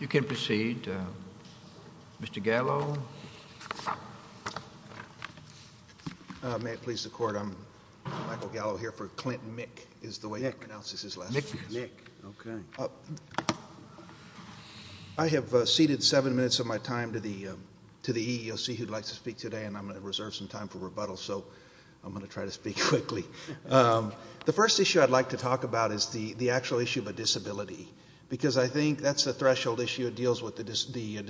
You can proceed, Mr. Gallo. May it please the Court, I'm Michael Gallo here for Clinton-Mueck is the way he pronounces his last name. I have seated seven minutes of my time to the EEOC who'd like to speak today and I'm going to reserve some time for rebuttal, so I'm going to try to speak quickly. The first issue I'd like to talk about is the actual issue of a disability, because I think that's the threshold issue that deals with the disability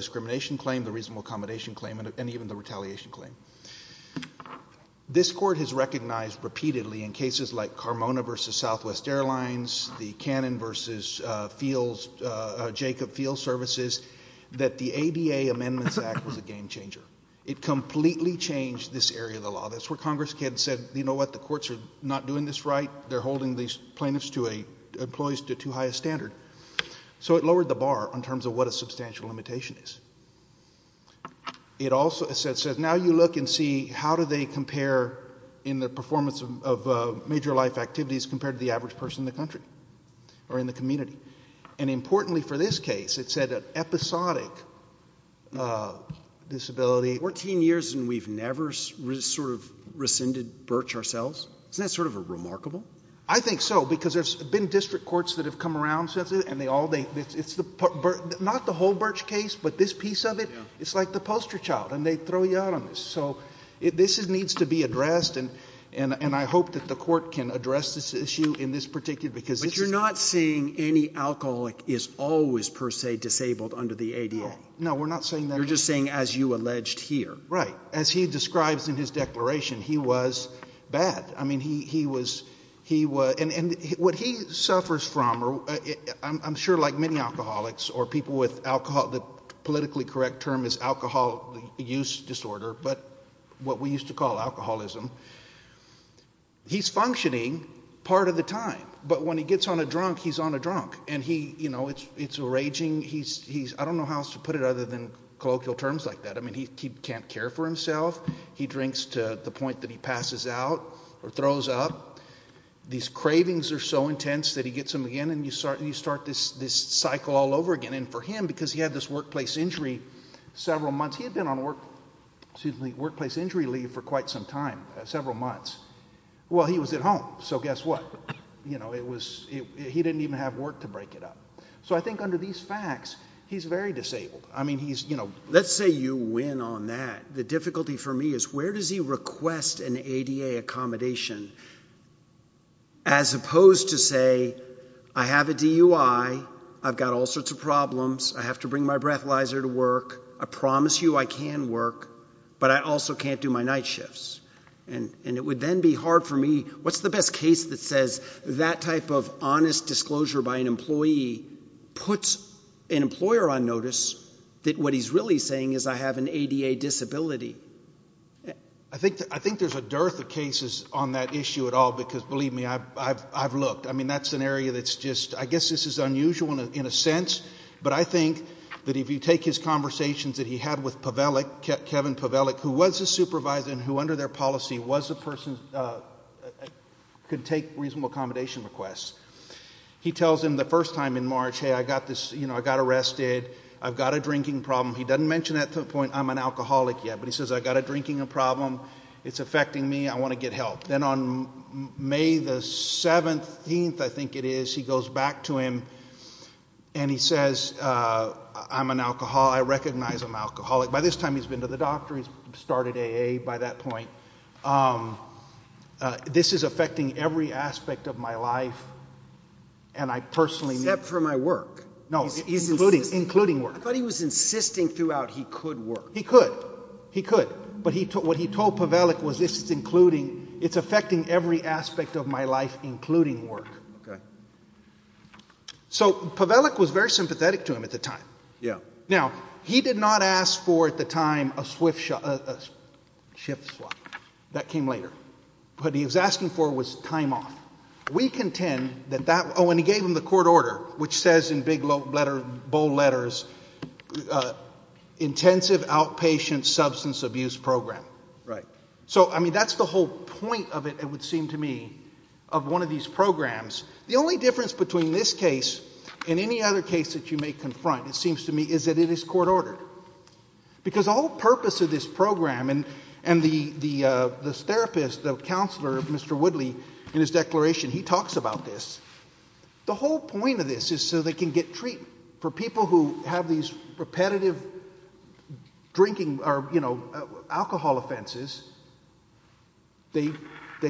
discrimination claim, the reasonable accommodation claim, and even the retaliation claim. This Court has recognized repeatedly in cases like Carmona v. Southwest Airlines, the Cannon v. Jacob Field Services, that the ADA Amendments Act was a game changer. It completely changed this area of the law. That's where Congress had said, you know what, the courts are not doing this right. They're holding these plaintiffs to a, employees to too high a standard. So it lowered the bar in terms of what a substantial limitation is. It also said, now you look and see how do they compare in the performance of major life activities compared to the average person in the country or in the community. And importantly for this case, it said an episodic disability. Fourteen years and we've never sort of rescinded Birch ourselves. Isn't that sort of remarkable? I think so, because there's been district courts that have come around since then and they all, it's the, not the whole Birch case, but this piece of it. It's like the poster child and they throw you out on this. So this needs to be addressed and I hope that the Court can address this issue in this particular, because this is. But you're not saying any alcoholic is always per se disabled under the ADA. No, we're not saying that. You're just saying as you alleged here. Right. As he describes in his declaration, he was bad. And what he suffers from, I'm sure like many alcoholics or people with alcohol, the politically correct term is alcohol use disorder, but what we used to call alcoholism. He's functioning part of the time. But when he gets on a drunk, he's on a drunk. And he, you know, it's raging. I don't know how else to put it other than colloquial terms like that. I mean, he can't care for himself. He drinks to the point that he passes out or throws up. These cravings are so intense that he gets them again and you start this cycle all over again. And for him, because he had this workplace injury several months, he had been on workplace injury leave for quite some time, several months. Well, he was at home. So guess what? You know, it was, he didn't even have work to break it up. So I think under these facts, he's very disabled. I mean, he's, you know, let's say you win on that. The difficulty for me is where does he request an ADA accommodation as opposed to say, I have a DUI. I've got all sorts of problems. I have to bring my breathalyzer to work. I promise you I can work, but I also can't do my night shifts. And it would then be hard for me. I mean, what's the best case that says that type of honest disclosure by an employee puts an employer on notice that what he's really saying is I have an ADA disability? I think there's a dearth of cases on that issue at all because, believe me, I've looked. I mean, that's an area that's just, I guess this is unusual in a sense. But I think that if you take his conversations that he had with Pavelic, Kevin Pavelic, who was a supervisor and who under their policy was a person, could take reasonable accommodation requests. He tells him the first time in March, hey, I got this, you know, I got arrested. I've got a drinking problem. He doesn't mention that to the point I'm an alcoholic yet, but he says I've got a drinking problem. It's affecting me. I want to get help. Then on May the 17th, I think it is, he goes back to him and he says I'm an alcoholic. I recognize I'm an alcoholic. By this time he's been to the doctor. He's started AA by that point. This is affecting every aspect of my life, and I personally need to. Except for my work. No, including work. I thought he was insisting throughout he could work. He could. He could. But what he told Pavelic was this is including, it's affecting every aspect of my life, including work. Okay. So Pavelic was very sympathetic to him at the time. Yeah. Now, he did not ask for at the time a shift slot. That came later. What he was asking for was time off. We contend that that, oh, and he gave him the court order, which says in big bold letters intensive outpatient substance abuse program. Right. So, I mean, that's the whole point of it, it would seem to me, of one of these programs. The only difference between this case and any other case that you may confront, it seems to me, is that it is court ordered. Because the whole purpose of this program, and the therapist, the counselor, Mr. Woodley, in his declaration, he talks about this. The whole point of this is so they can get treatment. For people who have these repetitive drinking, or, you know, alcohol offenses, they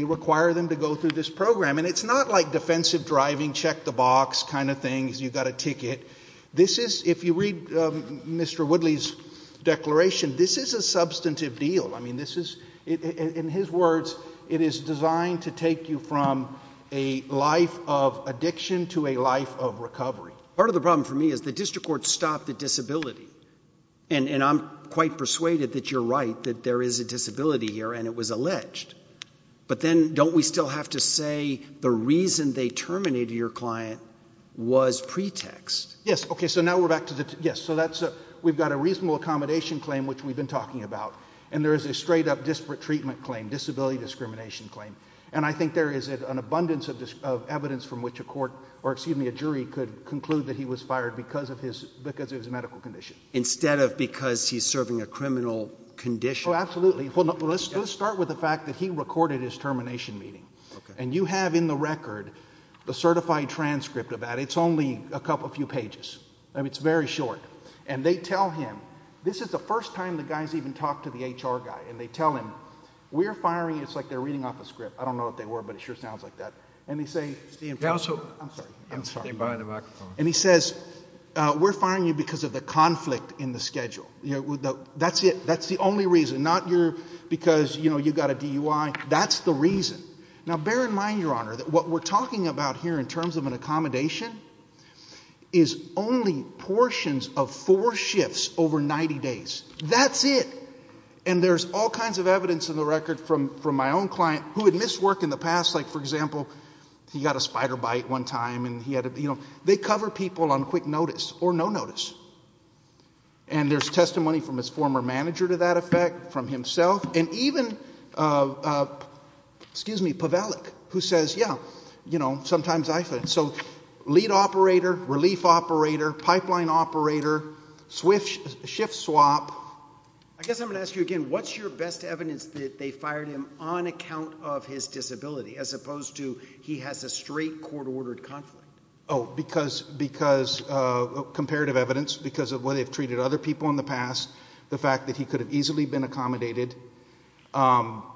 require them to go through this program. And it's not like defensive driving, check the box kind of things, you've got a ticket. This is, if you read Mr. Woodley's declaration, this is a substantive deal. I mean, this is, in his words, it is designed to take you from a life of addiction to a life of recovery. Part of the problem for me is the district court stopped the disability. And I'm quite persuaded that you're right, that there is a disability here, and it was alleged. But then, don't we still have to say the reason they terminated your client was pretext? Yes, okay, so now we're back to the, yes, so that's, we've got a reasonable accommodation claim, which we've been talking about. And there is a straight up disparate treatment claim, disability discrimination claim. And I think there is an abundance of evidence from which a court, or excuse me, a jury could conclude that he was fired because of his medical condition. Instead of because he's serving a criminal condition. Well, absolutely. Let's start with the fact that he recorded his termination meeting. And you have in the record the certified transcript of that. It's only a few pages. It's very short. And they tell him, this is the first time the guys even talked to the HR guy. And they tell him, we're firing you. It's like they're reading off a script. I don't know what they were, but it sure sounds like that. And he says, we're firing you because of the conflict in the schedule. That's it. That's the reason. Not because, you know, you've got a DUI. That's the reason. Now, bear in mind, Your Honor, that what we're talking about here in terms of an accommodation is only portions of four shifts over 90 days. That's it. And there's all kinds of evidence in the record from my own client who had missed work in the past. Like, for example, he got a spider bite one time and he had a, you know, they cover people on quick notice or no notice. And there's testimony from his former manager to that effect, from himself. And even, excuse me, Pavelic, who says, yeah, you know, sometimes I fit. So lead operator, relief operator, pipeline operator, shift swap. I guess I'm going to ask you again, what's your best evidence that they fired him on account of his disability as opposed to he has a straight court-ordered conflict? Oh, because comparative evidence, because of the way they've treated other people in the past, the fact that he could have easily been accommodated. I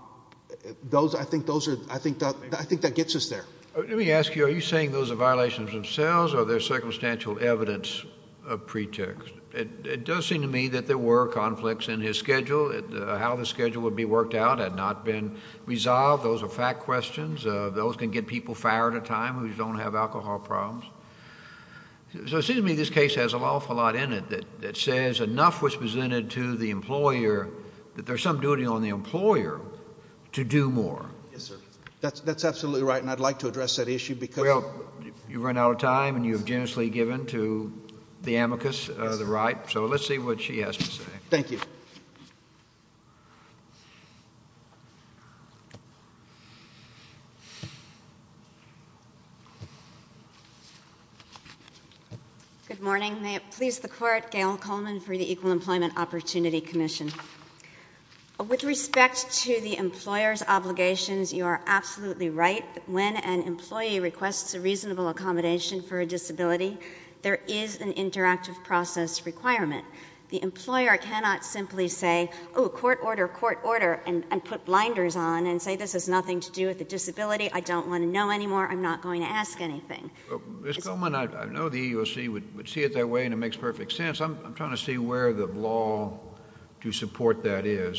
think that gets us there. Let me ask you, are you saying those are violations themselves or they're circumstantial evidence of pretext? It does seem to me that there were conflicts in his schedule. How the schedule would be worked out had not been resolved. Those are fact questions. Those can get people fired at a time who don't have alcohol problems. So it seems to me this case has an awful lot in it that says enough was presented to the employer that there's some duty on the employer to do more. Yes, sir. That's absolutely right, and I'd like to address that issue because you've run out of time and you've generously given to the amicus, the right. So let's see what she has to say. Thank you. Good morning. May it please the court, Gail Coleman for the Equal Employment Opportunity Commission. With respect to the employer's obligations, you are absolutely right. When an employee requests a reasonable accommodation for a disability, there is an interactive process requirement. The employer cannot simply say, oh, court order, court order, and put blinders on and say this has nothing to do with the disability. I don't want to know anymore. I'm not going to ask anything. Ms. Coleman, I know the EEOC would see it that way and it makes perfect sense. I'm trying to see where the law to support that is.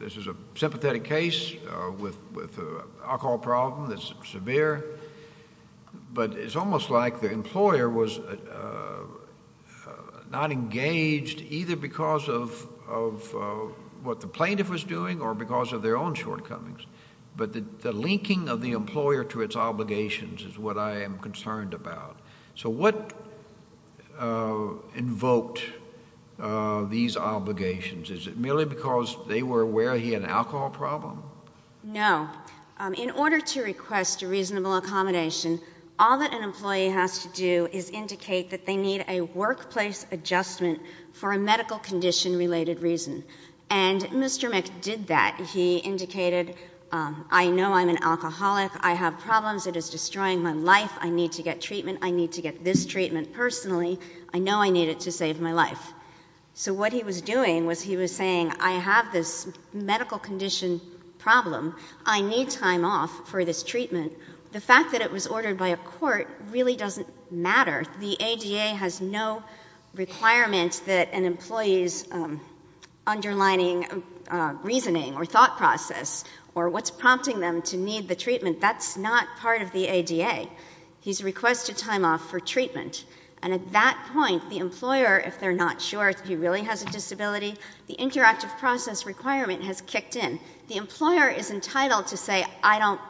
This is a sympathetic case with an alcohol problem that's severe, but it's almost like the employer was not engaged either because of what the plaintiff was doing or because of their own shortcomings. But the linking of the employer to its obligations is what I am concerned about. So what invoked these obligations? Is it merely because they were aware he had an alcohol problem? No. In order to request a reasonable accommodation, all that an employee has to do is indicate that they need a workplace adjustment for a medical condition-related reason. And Mr. Mick did that. He indicated, I know I'm an alcoholic. I have problems. It is destroying my life. I need to get treatment. I need to get this treatment personally. I know I need it to save my life. So what he was doing was he was saying, I have this medical condition problem. I need time off for this treatment. The fact that it was ordered by a court really doesn't matter. The ADA has no requirement that an employee's underlining reasoning or thought process or what's prompting them to need the treatment, that's not part of the ADA. He's requested time off for treatment. And at that point, the employer, if they're not sure if he really has a disability, the interactive process requirement has kicked in. The employer is entitled to say, I don't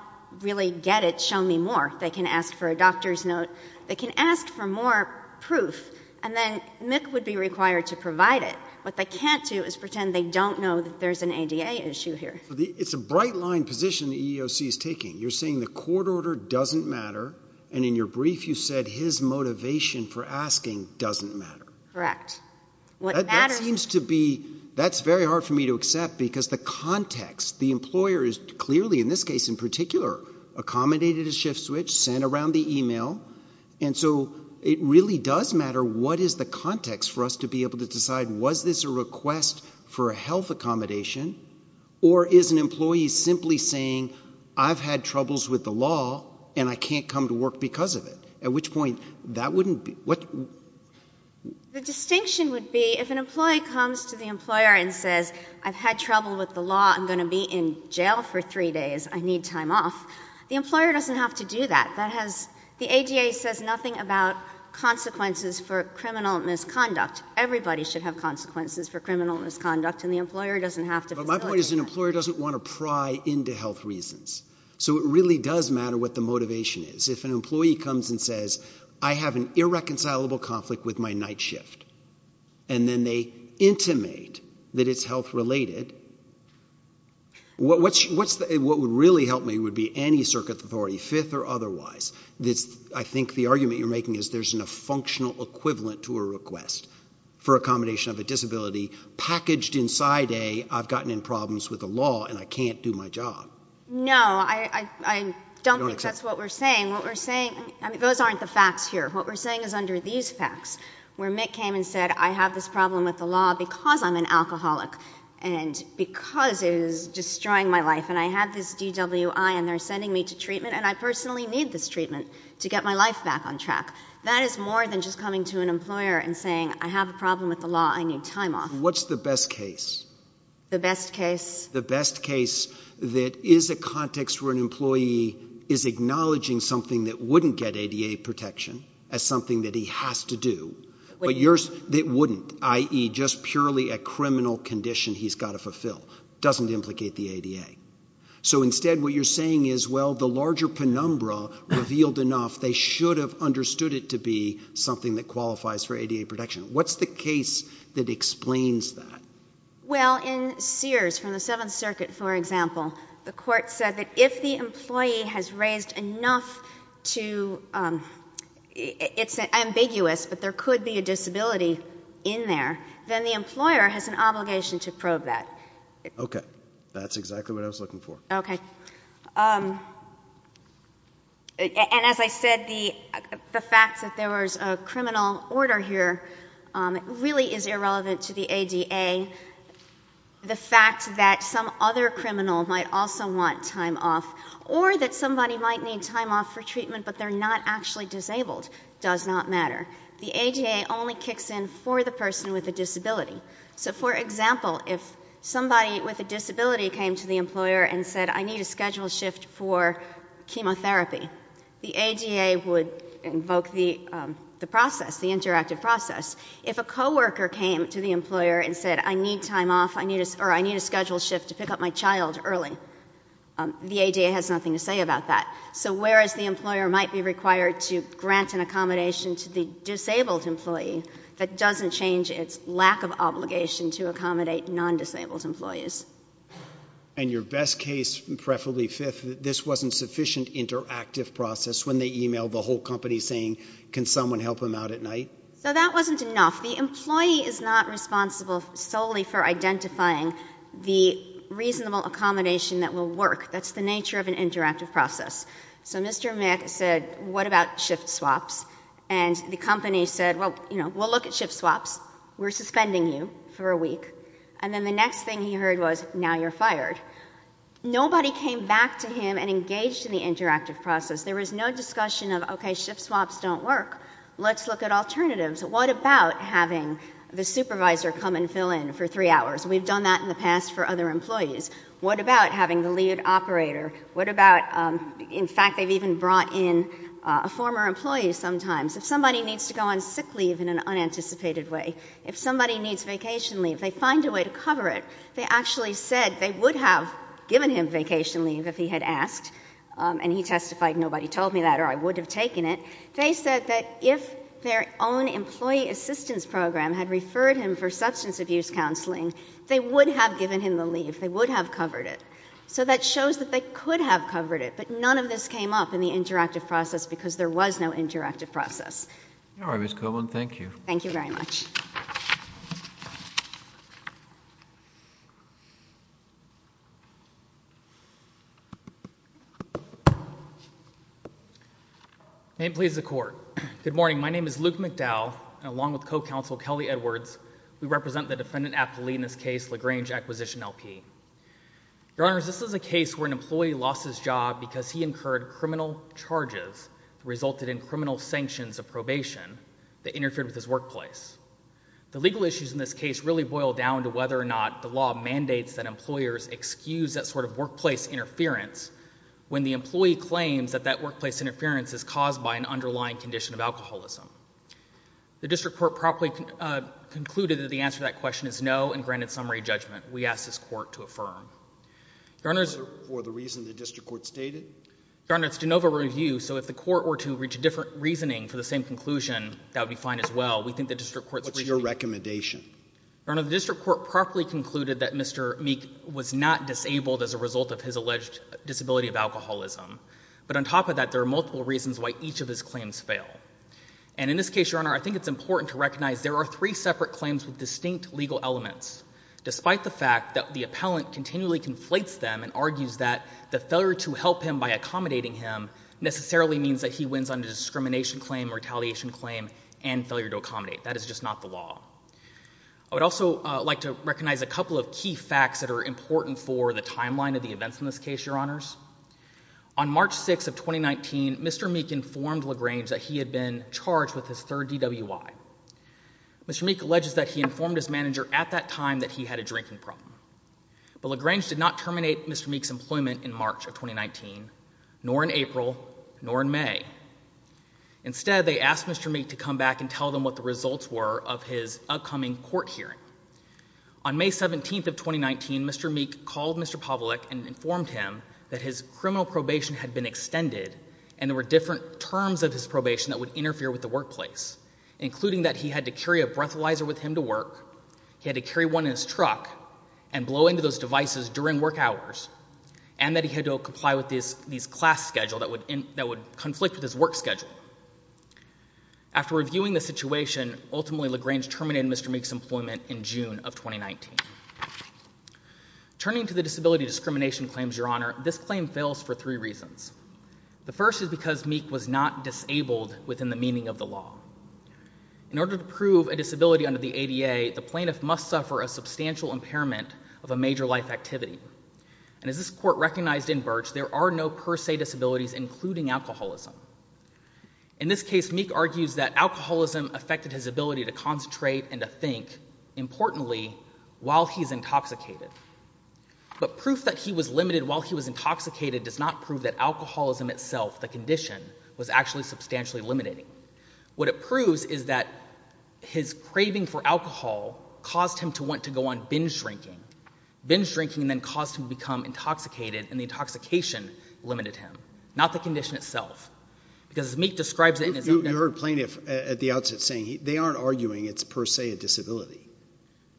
really get it. Show me more. They can ask for a doctor's note. They can ask for more proof. And then Mick would be required to provide it. What they can't do is pretend they don't know that there's an ADA issue here. It's a bright-line position the EEOC is taking. You're saying the court order doesn't matter. And in your brief, you said his motivation for asking doesn't matter. Correct. That's very hard for me to accept because the context, the employer is clearly, in this case in particular, accommodated a shift switch, sent around the e-mail. And so it really does matter what is the context for us to be able to decide was this a request for a health accommodation or is an employee simply saying, I've had troubles with the law and I can't come to work because of it? At which point, that wouldn't be, what? The distinction would be if an employee comes to the employer and says, I've had trouble with the law. I'm going to be in jail for three days. I need time off. The employer doesn't have to do that. That has, the ADA says nothing about consequences for criminal misconduct. Everybody should have consequences for criminal misconduct and the employer doesn't have to facilitate that. But my point is an employer doesn't want to pry into health reasons. So it really does matter what the motivation is. If an employee comes and says, I have an irreconcilable conflict with my night shift, and then they intimate that it's health-related, what would really help me would be any circuit authority, fifth or otherwise, I think the argument you're making is there's a functional equivalent to a request for accommodation of a disability packaged inside a, I've gotten in problems with the law and I can't do my job. No, I don't think that's what we're saying. What we're saying, those aren't the facts here. What we're saying is under these facts, where Mick came and said, I have this problem with the law because I'm an alcoholic and because it is destroying my life and I have this DWI and they're sending me to treatment and I personally need this treatment to get my life back on track. That is more than just coming to an employer and saying, I have a problem with the law. I need time off. What's the best case? The best case? The best case that is a context where an employee is acknowledging something that wouldn't get ADA protection as something that he has to do, but yours that wouldn't, i.e. just purely a criminal condition he's got to fulfill, doesn't implicate the ADA. So instead what you're saying is, well, the larger penumbra revealed enough, they should have understood it to be something that qualifies for ADA protection. What's the case that explains that? Well, in Sears from the Seventh Circuit, for example, the court said that if the employee has raised enough to, it's ambiguous, but there could be a disability in there, then the employer has an obligation to probe that. Okay. That's exactly what I was looking for. Okay. And as I said, the fact that there was a criminal order here really is irrelevant to the ADA. The fact that some other criminal might also want time off or that somebody might need time off for treatment but they're not actually disabled does not matter. The ADA only kicks in for the person with a disability. So, for example, if somebody with a disability came to the employer and said, I need a schedule shift for chemotherapy, the ADA would invoke the process, the interactive process. If a coworker came to the employer and said, I need time off, or I need a schedule shift to pick up my child early, the ADA has nothing to say about that. So whereas the employer might be required to grant an accommodation to the disabled employee, that doesn't change its lack of obligation to accommodate non-disabled employees. And your best case, preferably fifth, this wasn't sufficient interactive process when they emailed the whole company saying, can someone help him out at night? So that wasn't enough. The employee is not responsible solely for identifying the reasonable accommodation that will work. That's the nature of an interactive process. So Mr. Mick said, what about shift swaps? And the company said, well, we'll look at shift swaps. We're suspending you for a week. And then the next thing he heard was, now you're fired. Nobody came back to him and engaged in the interactive process. There was no discussion of, okay, shift swaps don't work. Let's look at alternatives. What about having the supervisor come and fill in for three hours? We've done that in the past for other employees. What about having the lead operator? What about, in fact, they've even brought in a former employee sometimes. If somebody needs to go on sick leave in an unanticipated way, if somebody needs vacation leave, they find a way to cover it. They actually said they would have given him vacation leave if he had asked, and he testified nobody told me that or I would have taken it. They said that if their own employee assistance program had referred him for substance abuse counseling, they would have given him the leave. They would have covered it. So that shows that they could have covered it, but none of this came up in the interactive process because there was no interactive process. All right, Ms. Coleman. Thank you. Thank you very much. May it please the Court. Good morning. My name is Luke McDowell, and along with Co-Counsel Kelly Edwards, we represent the Defendant Appellee in this case, LaGrange Acquisition, L.P. Your Honors, this is a case where an employee lost his job because he incurred criminal charges that resulted in criminal sanctions of probation that interfered with his workplace. The legal issues in this case really boil down to whether or not the law mandates that employers excuse that sort of workplace interference when the employee claims that that workplace interference is caused by an underlying condition of alcoholism. The District Court properly concluded that the answer to that question is no and granted summary judgment. We ask this Court to affirm. Your Honors. For the reason the District Court stated? Your Honors, it's de novo review, so if the Court were to reach a different reasoning for the same conclusion, that would be fine as well. We think the District Court's reasoning. What's your recommendation? Your Honors, the District Court properly concluded that Mr. Meek was not disabled as a result of his alleged disability of alcoholism. But on top of that, there are multiple reasons why each of his claims fail. And in this case, Your Honor, I think it's important to recognize there are three separate claims with distinct legal elements. Despite the fact that the appellant continually conflates them and argues that the failure to help him by accommodating him necessarily means that he wins under discrimination claim, retaliation claim, and failure to accommodate. That is just not the law. I would also like to recognize a couple of key facts that are important for the timeline of the events in this case, Your Honors. On March 6th of 2019, Mr. Meek informed LaGrange that he had been charged with his third DWI. Mr. Meek alleges that he informed his manager at that time that he had a drinking problem. But LaGrange did not terminate Mr. Meek's employment in March of 2019, nor in April, nor in May. Instead, they asked Mr. Meek to come back and tell them what the results were of his upcoming court hearing. On May 17th of 2019, Mr. Meek called Mr. Pavlik and informed him that his criminal probation had been extended and there were different terms of his probation that would interfere with the workplace, including that he had to carry a breathalyzer with him to work, he had to carry one in his truck and blow into those devices during work hours, and that he had to comply with this class schedule that would conflict with his work schedule. After reviewing the situation, ultimately LaGrange terminated Mr. Meek's employment in June of 2019. Turning to the disability discrimination claims, Your Honor, this claim fails for three reasons. The first is because Meek was not disabled within the meaning of the law. In order to prove a disability under the ADA, the plaintiff must suffer a substantial impairment of a major life activity. And as this court recognized in Birch, there are no per se disabilities, including alcoholism. In this case, Meek argues that alcoholism affected his ability to concentrate and to think, importantly, while he's intoxicated. But proof that he was limited while he was intoxicated does not prove that alcoholism itself, the condition, was actually substantially limiting. What it proves is that his craving for alcohol caused him to want to go on binge drinking. Binge drinking then caused him to become intoxicated and the intoxication limited him, not the condition itself. Because as Meek describes it in his opening... You heard plaintiff at the outset saying they aren't arguing it's per se a disability.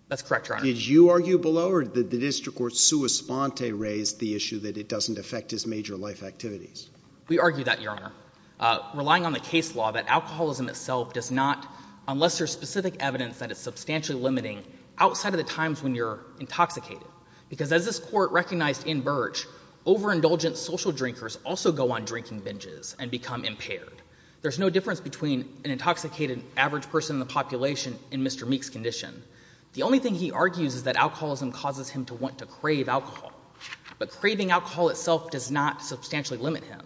That's correct, Your Honor. Did you argue below or did the district court sua sponte raise the issue that it doesn't affect his major life activities? We argued that, Your Honor. Relying on the case law, that alcoholism itself does not, unless there's specific evidence that it's substantially limiting, outside of the times when you're intoxicated. Because as this court recognized in Birch, overindulgent social drinkers also go on drinking binges and become impaired. There's no difference between an intoxicated average person in the population and Mr. Meek's condition. The only thing he argues is that alcoholism causes him to want to crave alcohol. But craving alcohol itself does not substantially limit him.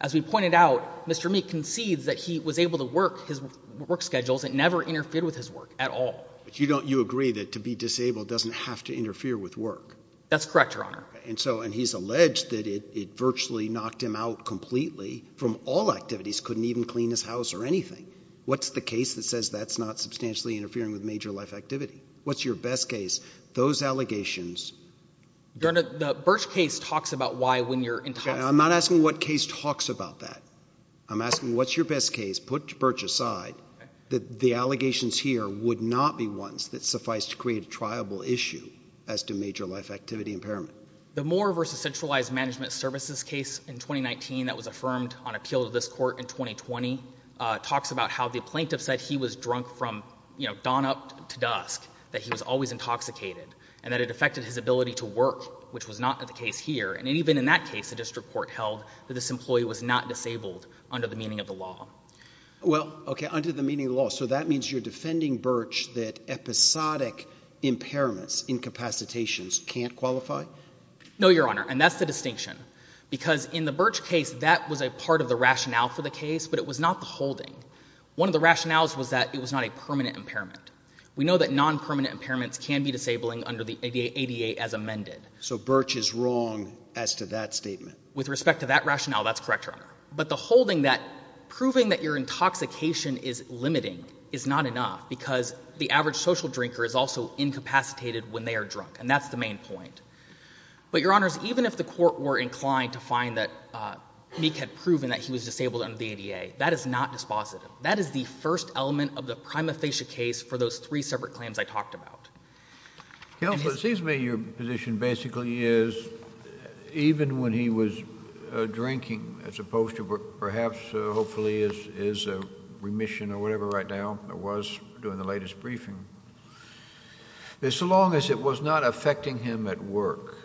As we pointed out, Mr. Meek concedes that he was able to work his work schedules and never interfered with his work at all. But you agree that to be disabled doesn't have to interfere with work. That's correct, Your Honor. And he's alleged that it virtually knocked him out completely from all activities, couldn't even clean his house or anything. What's the case that says that's not substantially interfering with major life activity? What's your best case? Those allegations. Your Honor, the Birch case talks about why when you're intoxicated. I'm not asking what case talks about that. I'm asking what's your best case? Put Birch aside. The allegations here would not be ones that suffice to create a triable issue as to major life activity impairment. The Moore v. Centralized Management Services case in 2019 that was affirmed on appeal to this Court in 2020 talks about how the plaintiff said he was drunk from, you know, dawn up to dusk, that he was always intoxicated, and that it affected his ability to work, which was not the case here. And even in that case, the district court held that this employee was not disabled under the meaning of the law. Well, okay, under the meaning of the law. So that means you're defending Birch that episodic impairments, incapacitations can't qualify? No, Your Honor. And that's the distinction. Because in the Birch case, that was a part of the rationale for the case, but it was not the holding. One of the rationales was that it was not a permanent impairment. We know that non-permanent impairments can be disabling under the ADA as amended. So Birch is wrong as to that statement? With respect to that rationale, that's correct, Your Honor. But the holding that proving that your intoxication is limiting is not enough because the average social drinker is also incapacitated when they are drunk, and that's the main point. But, Your Honors, even if the court were inclined to find that Meek had proven that he was disabled under the ADA, that is not dispositive. That is the first element of the prima facie case for those three separate claims I talked about. Counsel, it seems to me your position basically is even when he was drinking, as opposed to perhaps hopefully his remission or whatever right now it was during the latest briefing, that so long as it was not affecting him at work,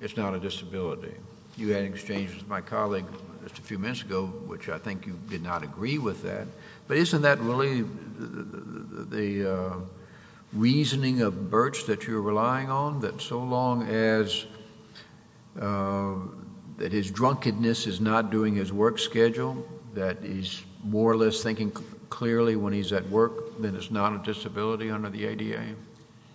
it's not a disability. You had an exchange with my colleague just a few minutes ago, which I think you did not agree with that. But isn't that really the reasoning of Birch that you're relying on, that so long as his drunkenness is not doing his work schedule, that he's more or less thinking clearly when he's at work, then it's not a disability under the ADA?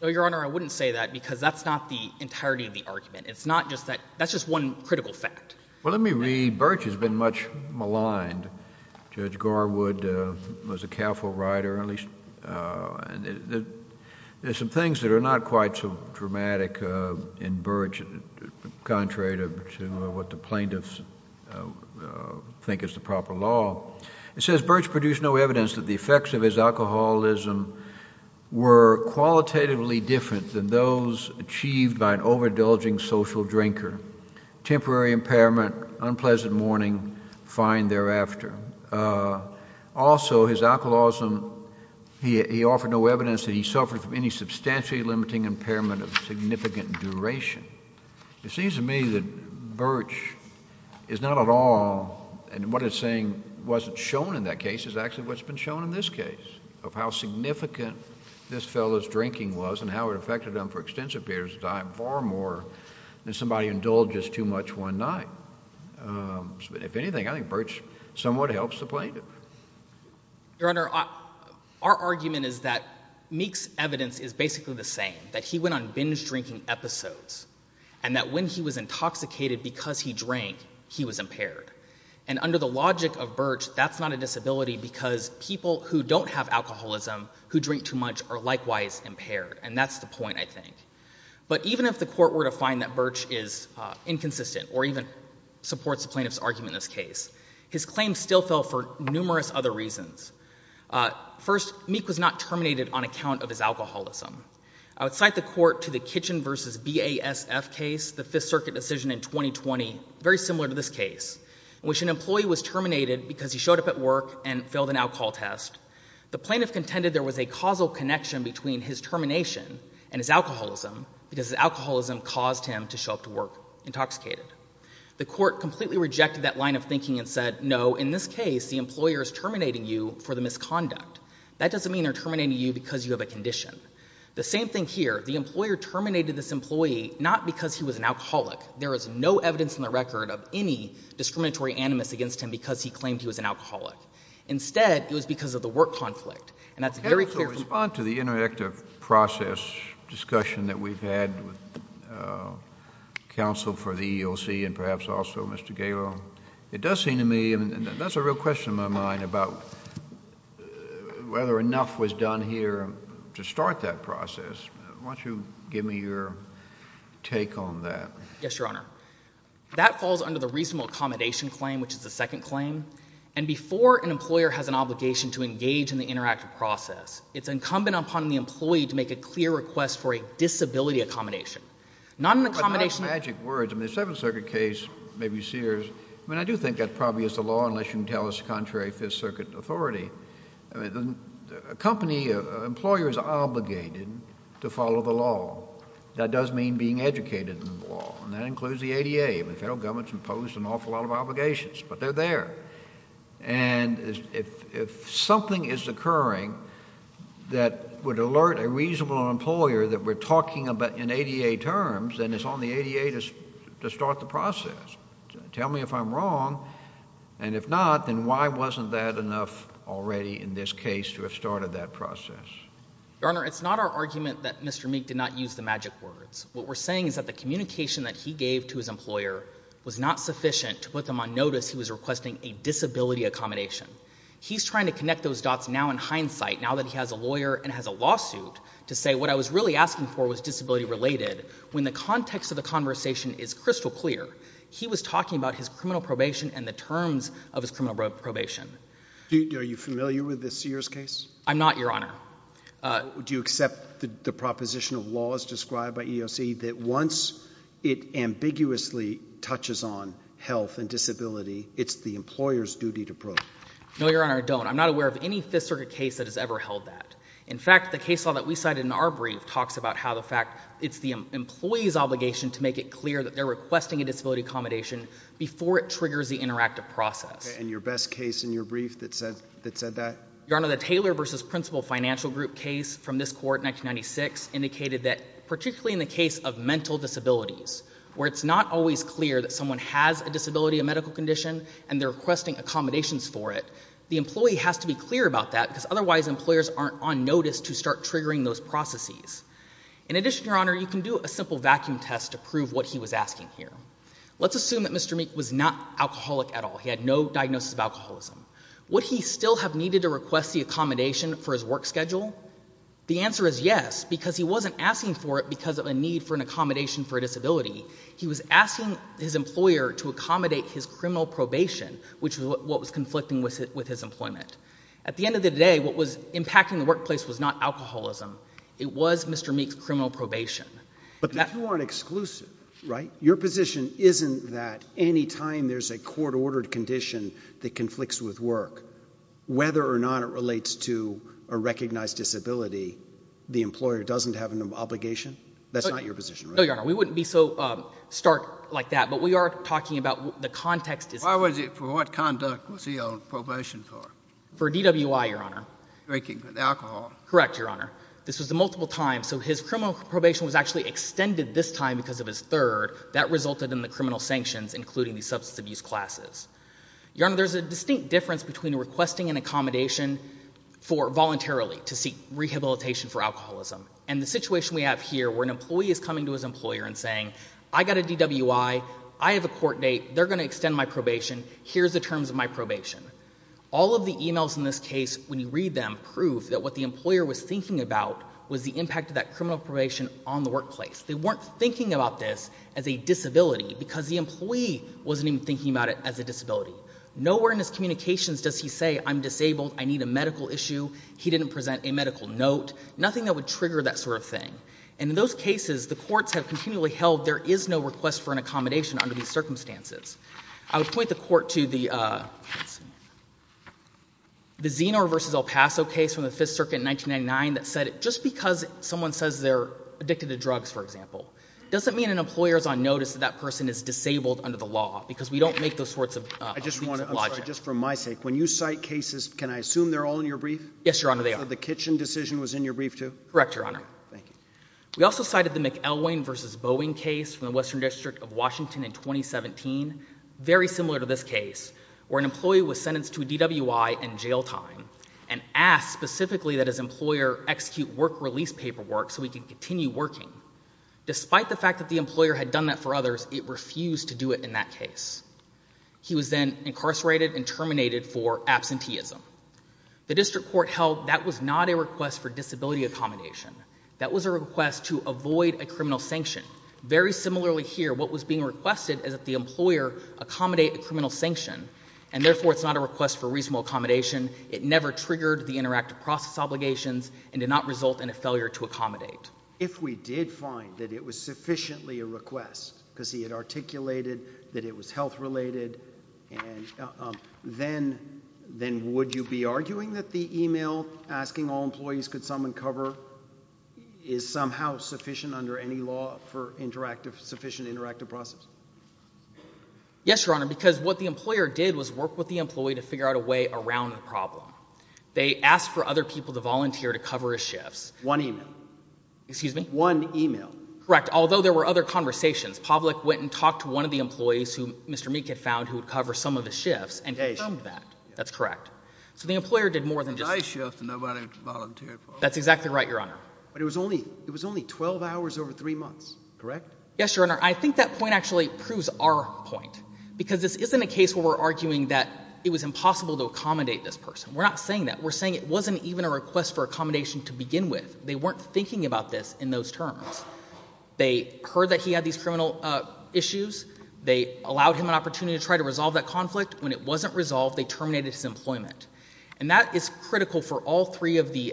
No, Your Honor, I wouldn't say that because that's not the entirety of the argument. It's not just that. That's just one critical fact. Well, let me read. Birch has been much maligned. Judge Garwood was a careful writer, at least. There are some things that are not quite so dramatic in Birch, contrary to what the plaintiffs think is the proper law. It says, Birch produced no evidence that the effects of his alcoholism were qualitatively different than those achieved by an overindulging social drinker. Temporary impairment, unpleasant morning, fine thereafter. Also, his alcoholism, he offered no evidence that he suffered from any substantially limiting impairment of significant duration. It seems to me that Birch is not at all, and what it's saying wasn't shown in that case is actually what's been shown in this case, of how significant this fellow's drinking was and how it affected him for extensive periods of time far more than somebody who indulges too much one night. If anything, I think Birch somewhat helps the plaintiff. Your Honor, our argument is that Meek's evidence is basically the same, that he went on binge drinking episodes, and that when he was intoxicated because he drank, he was impaired. And under the logic of Birch, that's not a disability because people who don't have alcoholism who drink too much are likewise impaired, and that's the point, I think. But even if the court were to find that Birch is inconsistent, or even supports the plaintiff's argument in this case, his claim still fell for numerous other reasons. First, Meek was not terminated on account of his alcoholism. I would cite the court to the Kitchen v. BASF case, the Fifth Circuit decision in 2020, very similar to this case, in which an employee was terminated because he showed up at work and failed an alcohol test. The plaintiff contended there was a causal connection between his termination and his alcoholism because his alcoholism caused him to show up to work intoxicated. The court completely rejected that line of thinking and said, no, in this case, the employer is terminating you for the misconduct. That doesn't mean they're terminating you because you have a condition. The same thing here. The employer terminated this employee not because he was an alcoholic. There is no evidence in the record of any discriminatory animus against him because he claimed he was an alcoholic. Instead, it was because of the work conflict, and that's very clear from— Can I also respond to the interactive process discussion that we've had with counsel for the EEOC and perhaps also Mr. Galo? It does seem to me, and that's a real question in my mind, about whether enough was done here to start that process. Why don't you give me your take on that? Yes, Your Honor. That falls under the reasonable accommodation claim, which is the second claim. And before an employer has an obligation to engage in the interactive process, it's incumbent upon the employee to make a clear request for a disability accommodation. Not an accommodation— Those are magic words. I mean, the Seventh Circuit case, maybe Sears, I mean, I do think that probably is the law unless you can tell us contrary Fifth Circuit authority. A company, an employer is obligated to follow the law. That does mean being educated in the law, and that includes the ADA. The federal government has imposed an awful lot of obligations, but they're there. And if something is occurring that would alert a reasonable employer that we're talking in ADA terms, then it's on the ADA to start the process. Tell me if I'm wrong, and if not, then why wasn't that enough already in this case to have started that process? Your Honor, it's not our argument that Mr. Meek did not use the magic words. What we're saying is that the communication that he gave to his employer was not sufficient to put them on notice he was requesting a disability accommodation. He's trying to connect those dots now in hindsight, now that he has a lawyer and has a lawsuit, to say what I was really asking for was disability-related. When the context of the conversation is crystal clear, he was talking about his criminal probation and the terms of his criminal probation. Are you familiar with the Sears case? I'm not, Your Honor. Do you accept the proposition of laws described by EEOC that once it ambiguously touches on health and disability, it's the employer's duty to prove? No, Your Honor, I don't. I'm not aware of any Fifth Circuit case that has ever held that. In fact, the case law that we cited in our brief talks about how the fact it's the employee's obligation to make it clear that they're requesting a disability accommodation before it triggers the interactive process. And your best case in your brief that said that? Your Honor, the Taylor v. Principal Financial Group case from this court in 1996 indicated that particularly in the case of mental disabilities, where it's not always clear that someone has a disability, a medical condition, and they're requesting accommodations for it, the employee has to be clear about that because otherwise employers aren't on notice to start triggering those processes. In addition, Your Honor, you can do a simple vacuum test to prove what he was asking here. Let's assume that Mr. Meek was not alcoholic at all. He had no diagnosis of alcoholism. Would he still have needed to request the accommodation for his work schedule? The answer is yes because he wasn't asking for it because of a need for an accommodation for a disability. He was asking his employer to accommodate his criminal probation, which was what was conflicting with his employment. At the end of the day, what was impacting the workplace was not alcoholism. It was Mr. Meek's criminal probation. But the two aren't exclusive, right? Your position isn't that any time there's a court-ordered condition that conflicts with work, whether or not it relates to a recognized disability, the employer doesn't have an obligation? That's not your position, right? No, Your Honor. We wouldn't be so stark like that. But we are talking about the context. Why was it? For what conduct was he on probation for? For DWI, Your Honor. Drinking alcohol? Correct, Your Honor. This was a multiple time, so his criminal probation was actually extended this time because of his third. That resulted in the criminal sanctions, including the substance abuse classes. Your Honor, there's a distinct difference between requesting an accommodation for voluntarily to seek rehabilitation for alcoholism and the situation we have here where an employee is coming to his employer and saying, I got a DWI, I have a court date, they're going to extend my probation, here's the terms of my probation. All of the emails in this case, when you read them, prove that what the employer was thinking about was the impact of that criminal probation on the workplace. They weren't thinking about this as a disability because the employee wasn't even thinking about it as a disability. Nowhere in his communications does he say, I'm disabled, I need a medical issue. He didn't present a medical note. Nothing that would trigger that sort of thing. And in those cases, the courts have continually held there is no request for an accommodation under these circumstances. I would point the court to the Zenor v. El Paso case from the Fifth Circuit in 1999 that said just because someone says they're addicted to drugs, for example, doesn't mean an employer is on notice that that person is disabled under the law because we don't make those sorts of leaps of logic. I just want to, I'm sorry, just for my sake, when you cite cases, can I assume they're all in your brief? Yes, Your Honor, they are. So the kitchen decision was in your brief too? Correct, Your Honor. Thank you. We also cited the McElwain v. Boeing case from the Western District of Washington in 2017, very similar to this case, where an employee was sentenced to a DWI and jail time and asked specifically that his employer execute work release paperwork so he could continue working. Despite the fact that the employer had done that for others, it refused to do it in that case. He was then incarcerated and terminated for absenteeism. The district court held that was not a request for disability accommodation. That was a request to avoid a criminal sanction. Very similarly here, what was being requested is that the employer accommodate a criminal sanction, and therefore it's not a request for reasonable accommodation. It never triggered the interactive process obligations and did not result in a failure to accommodate. If we did find that it was sufficiently a request because he had articulated that it was health-related, then would you be arguing that the email asking all employees could someone cover is somehow sufficient under any law for sufficient interactive process? Yes, Your Honor, because what the employer did was work with the employee to figure out a way around the problem. They asked for other people to volunteer to cover his shifts. One email. Excuse me? One email. Correct, although there were other conversations. Pavlik went and talked to one of the employees who Mr. Meek had found who would cover some of the shifts and confirmed that. That's correct. So the employer did more than just— I shift and nobody volunteered for it. That's exactly right, Your Honor. But it was only 12 hours over three months, correct? Yes, Your Honor. I think that point actually proves our point because this isn't a case where we're arguing that it was impossible to accommodate this person. We're not saying that. We're saying it wasn't even a request for accommodation to begin with. They weren't thinking about this in those terms. They heard that he had these criminal issues. They allowed him an opportunity to try to resolve that conflict. When it wasn't resolved, they terminated his employment. And that is critical for all three of the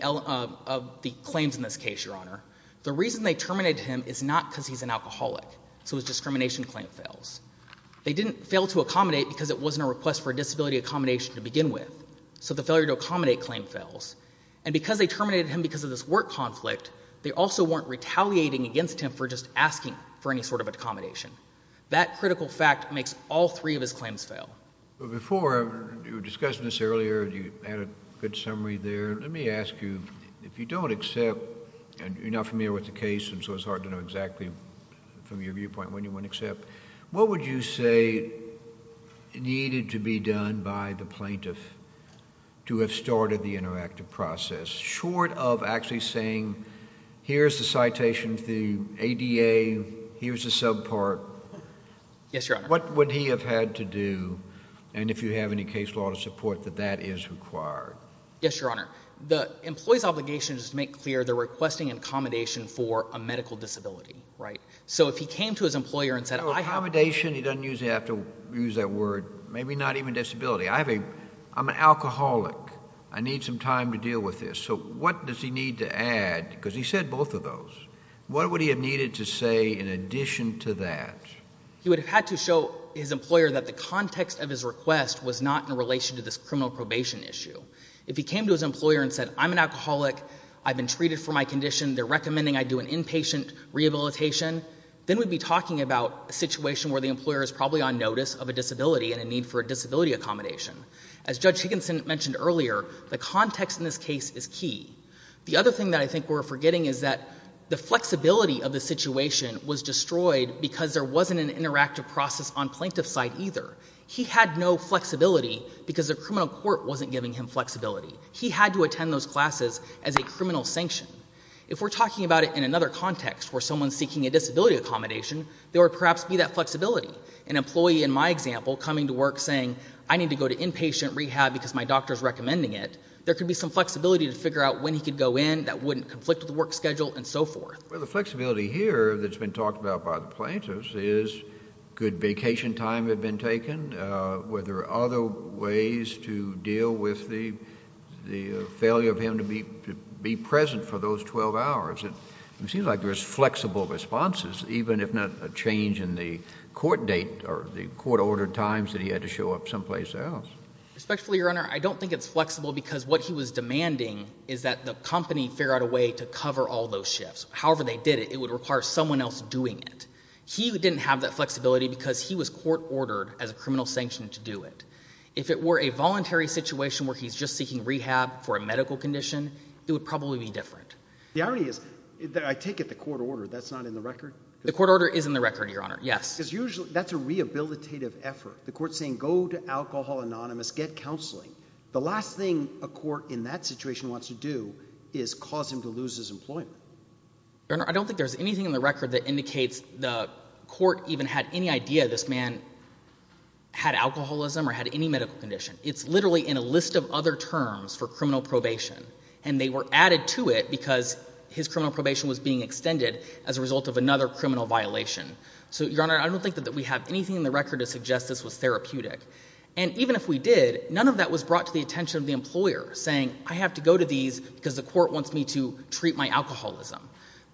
claims in this case, Your Honor. The reason they terminated him is not because he's an alcoholic, so his discrimination claim fails. They didn't fail to accommodate because it wasn't a request for disability accommodation to begin with, so the failure to accommodate claim fails. And because they terminated him because of this work conflict, they also weren't retaliating against him for just asking for any sort of accommodation. That critical fact makes all three of his claims fail. But before, you were discussing this earlier. You had a good summary there. Let me ask you, if you don't accept, and you're not familiar with the case, and so it's hard to know exactly from your viewpoint when you wouldn't accept, what would you say needed to be done by the plaintiff to have started the interactive process? Short of actually saying here's the citations, the ADA, here's the subpart. Yes, Your Honor. What would he have had to do, and if you have any case law to support that that is required? Yes, Your Honor. The employee's obligation is to make clear they're requesting accommodation for a medical disability. Right. So if he came to his employer and said I have- Accommodation, he doesn't usually have to use that word, maybe not even disability. I'm an alcoholic. I need some time to deal with this. So what does he need to add, because he said both of those. What would he have needed to say in addition to that? He would have had to show his employer that the context of his request was not in relation to this criminal probation issue. If he came to his employer and said I'm an alcoholic, I've been treated for my condition, they're recommending I do an inpatient rehabilitation, then we'd be talking about a situation where the employer is probably on notice of a disability and a need for a disability accommodation. As Judge Higginson mentioned earlier, the context in this case is key. The other thing that I think we're forgetting is that the flexibility of the situation was destroyed because there wasn't an interactive process on plaintiff's side either. He had no flexibility because the criminal court wasn't giving him flexibility. He had to attend those classes as a criminal sanction. If we're talking about it in another context where someone is seeking a disability accommodation, there would perhaps be that flexibility. An employee in my example coming to work saying I need to go to inpatient rehab because my doctor is recommending it, there could be some flexibility to figure out when he could go in that wouldn't conflict with the work schedule and so forth. Well, the flexibility here that's been talked about by the plaintiffs is could vacation time have been taken? Were there other ways to deal with the failure of him to be present for those 12 hours? It seems like there's flexible responses even if not a change in the court date or the court order times that he had to show up someplace else. Respectfully, Your Honor, I don't think it's flexible because what he was demanding is that the company figure out a way to cover all those shifts. However they did it, it would require someone else doing it. He didn't have that flexibility because he was court ordered as a criminal sanction to do it. If it were a voluntary situation where he's just seeking rehab for a medical condition, it would probably be different. The irony is that I take it the court order, that's not in the record? The court order is in the record, Your Honor, yes. Because usually that's a rehabilitative effort. The court is saying go to Alcohol Anonymous, get counseling. The last thing a court in that situation wants to do is cause him to lose his employment. Your Honor, I don't think there's anything in the record that indicates the court even had any idea this man had alcoholism or had any medical condition. It's literally in a list of other terms for criminal probation. And they were added to it because his criminal probation was being extended as a result of another criminal violation. So, Your Honor, I don't think that we have anything in the record to suggest this was therapeutic. And even if we did, none of that was brought to the attention of the employer saying I have to go to these because the court wants me to treat my alcoholism.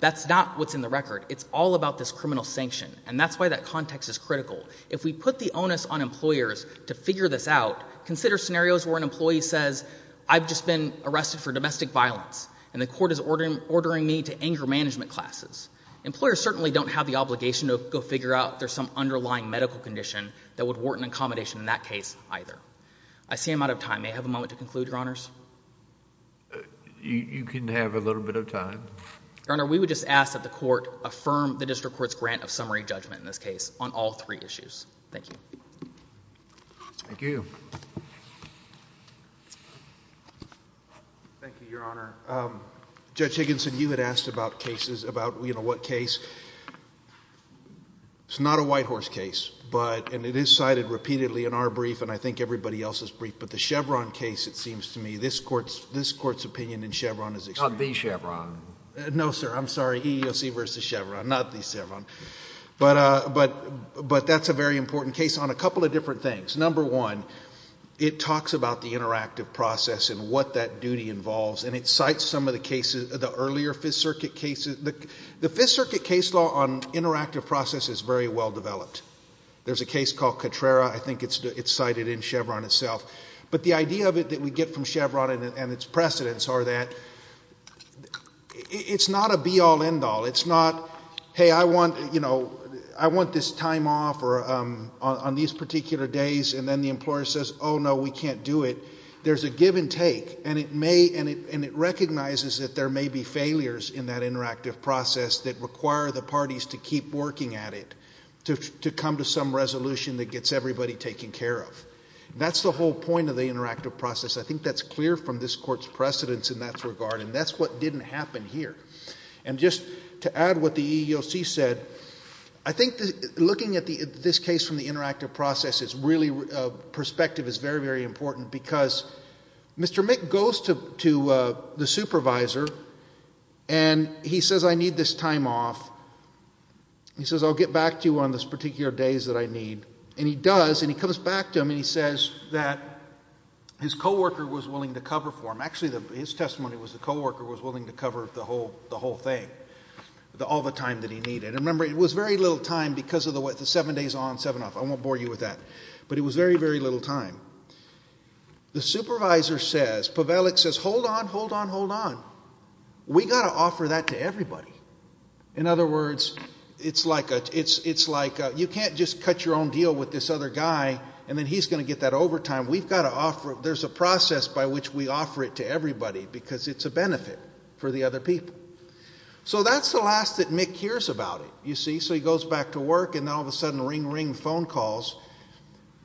That's not what's in the record. It's all about this criminal sanction. And that's why that context is critical. If we put the onus on employers to figure this out, consider scenarios where an employee says I've just been arrested for domestic violence. And the court is ordering me to anger management classes. Employers certainly don't have the obligation to go figure out if there's some underlying medical condition that would warrant an accommodation in that case either. I see I'm out of time. May I have a moment to conclude, Your Honors? You can have a little bit of time. Your Honor, we would just ask that the court affirm the district court's grant of summary judgment in this case on all three issues. Thank you. Thank you. Thank you, Your Honor. Judge Higginson, you had asked about cases, about what case. It's not a Whitehorse case. And it is cited repeatedly in our brief and I think everybody else's brief. But the Chevron case, it seems to me, this Court's opinion in Chevron is extreme. Not the Chevron. No, sir. I'm sorry. EEOC versus Chevron. Not the Chevron. But that's a very important case on a couple of different things. Number one, it talks about the interactive process and what that duty involves. And it cites some of the cases, the earlier Fifth Circuit cases. The Fifth Circuit case law on interactive process is very well developed. There's a case called Cotrera. I think it's cited in Chevron itself. But the idea of it that we get from Chevron and its precedents are that it's not a be-all, end-all. It's not, hey, I want, you know, I want this time off on these particular days. And then the employer says, oh, no, we can't do it. There's a give and take. And it may and it recognizes that there may be failures in that interactive process that require the parties to keep working at it, to come to some resolution that gets everybody taken care of. That's the whole point of the interactive process. I think that's clear from this Court's precedents in that regard. And that's what didn't happen here. And just to add what the EEOC said, I think looking at this case from the interactive process perspective is very, very important because Mr. Mick goes to the supervisor and he says, I need this time off. He says, I'll get back to you on these particular days that I need. And he does, and he comes back to him and he says that his co-worker was willing to cover for him. Actually, his testimony was the co-worker was willing to cover the whole thing, all the time that he needed. And remember, it was very little time because of the seven days on, seven off. I won't bore you with that. But it was very, very little time. The supervisor says, Pavelic says, hold on, hold on, hold on. We've got to offer that to everybody. In other words, it's like you can't just cut your own deal with this other guy and then he's going to get that overtime. We've got to offer it. There's a process by which we offer it to everybody because it's a benefit for the other people. So that's the last that Mick hears about it, you see. So he goes back to work, and then all of a sudden, ring, ring, phone calls.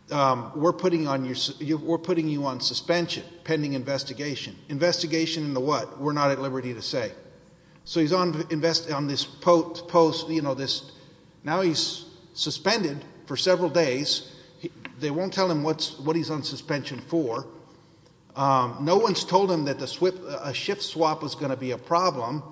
We're putting you on suspension, pending investigation. Investigation into what? We're not at liberty to say. So he's on this post. Now he's suspended for several days. They won't tell him what he's on suspension for. No one's told him that a shift swap was going to be a problem.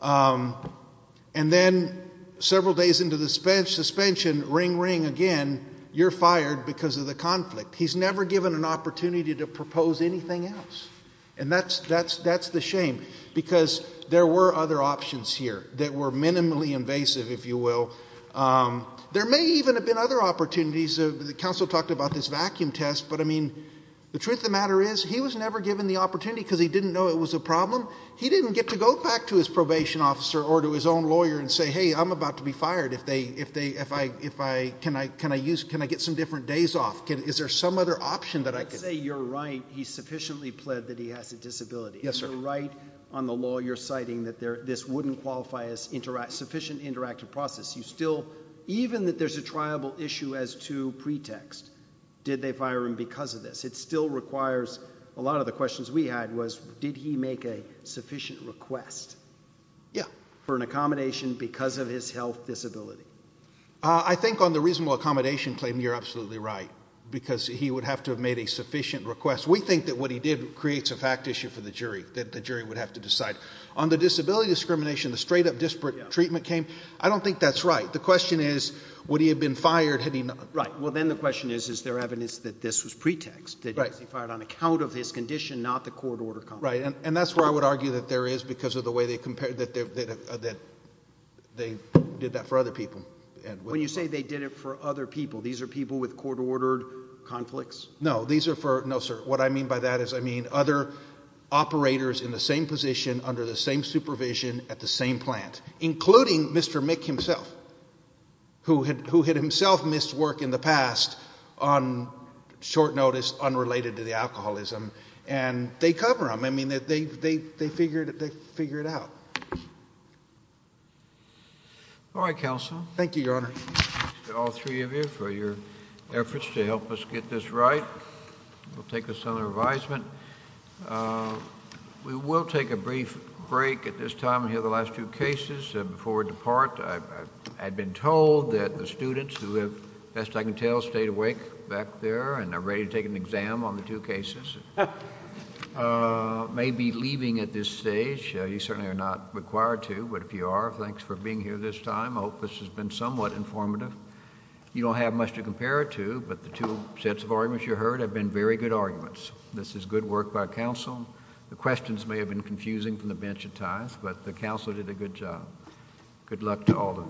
And then several days into the suspension, ring, ring again, you're fired because of the conflict. He's never given an opportunity to propose anything else. And that's the shame because there were other options here that were minimally invasive, if you will. There may even have been other opportunities. The counsel talked about this vacuum test. But, I mean, the truth of the matter is he was never given the opportunity because he didn't know it was a problem. He didn't get to go back to his probation officer or to his own lawyer and say, hey, I'm about to be fired. Can I get some different days off? Is there some other option that I could? I'd say you're right. He sufficiently pled that he has a disability. Yes, sir. You're absolutely right on the law. You're citing that this wouldn't qualify as sufficient interactive process. You still, even that there's a triable issue as to pretext, did they fire him because of this? It still requires a lot of the questions we had was did he make a sufficient request? Yeah. For an accommodation because of his health disability. I think on the reasonable accommodation claim, you're absolutely right because he would have to have made a sufficient request. We think that what he did creates a fact issue for the jury, that the jury would have to decide. On the disability discrimination, the straight-up disparate treatment claim, I don't think that's right. The question is would he have been fired had he not? Right. Well, then the question is is there evidence that this was pretext, that he was fired on account of his condition, not the court-ordered conflict? Right. And that's where I would argue that there is because of the way they compared that they did that for other people. When you say they did it for other people, these are people with court-ordered conflicts? No. No, sir. What I mean by that is I mean other operators in the same position under the same supervision at the same plant, including Mr. Mick himself, who had himself missed work in the past on short notice unrelated to the alcoholism, and they cover him. I mean, they figured it out. All right, counsel. Thank you, Your Honor. Thank you to all three of you for your efforts to help us get this right. We'll take this under advisement. We will take a brief break at this time and hear the last two cases before we depart. I've been told that the students who have, best I can tell, stayed awake back there and are ready to take an exam on the two cases may be leaving at this stage. You certainly are not required to. But if you are, thanks for being here this time. I hope this has been somewhat informative. You don't have much to compare it to, but the two sets of arguments you heard have been very good arguments. This is good work by counsel. The questions may have been confusing from the bench at times, but the counsel did a good job. Good luck to all of you. All rise.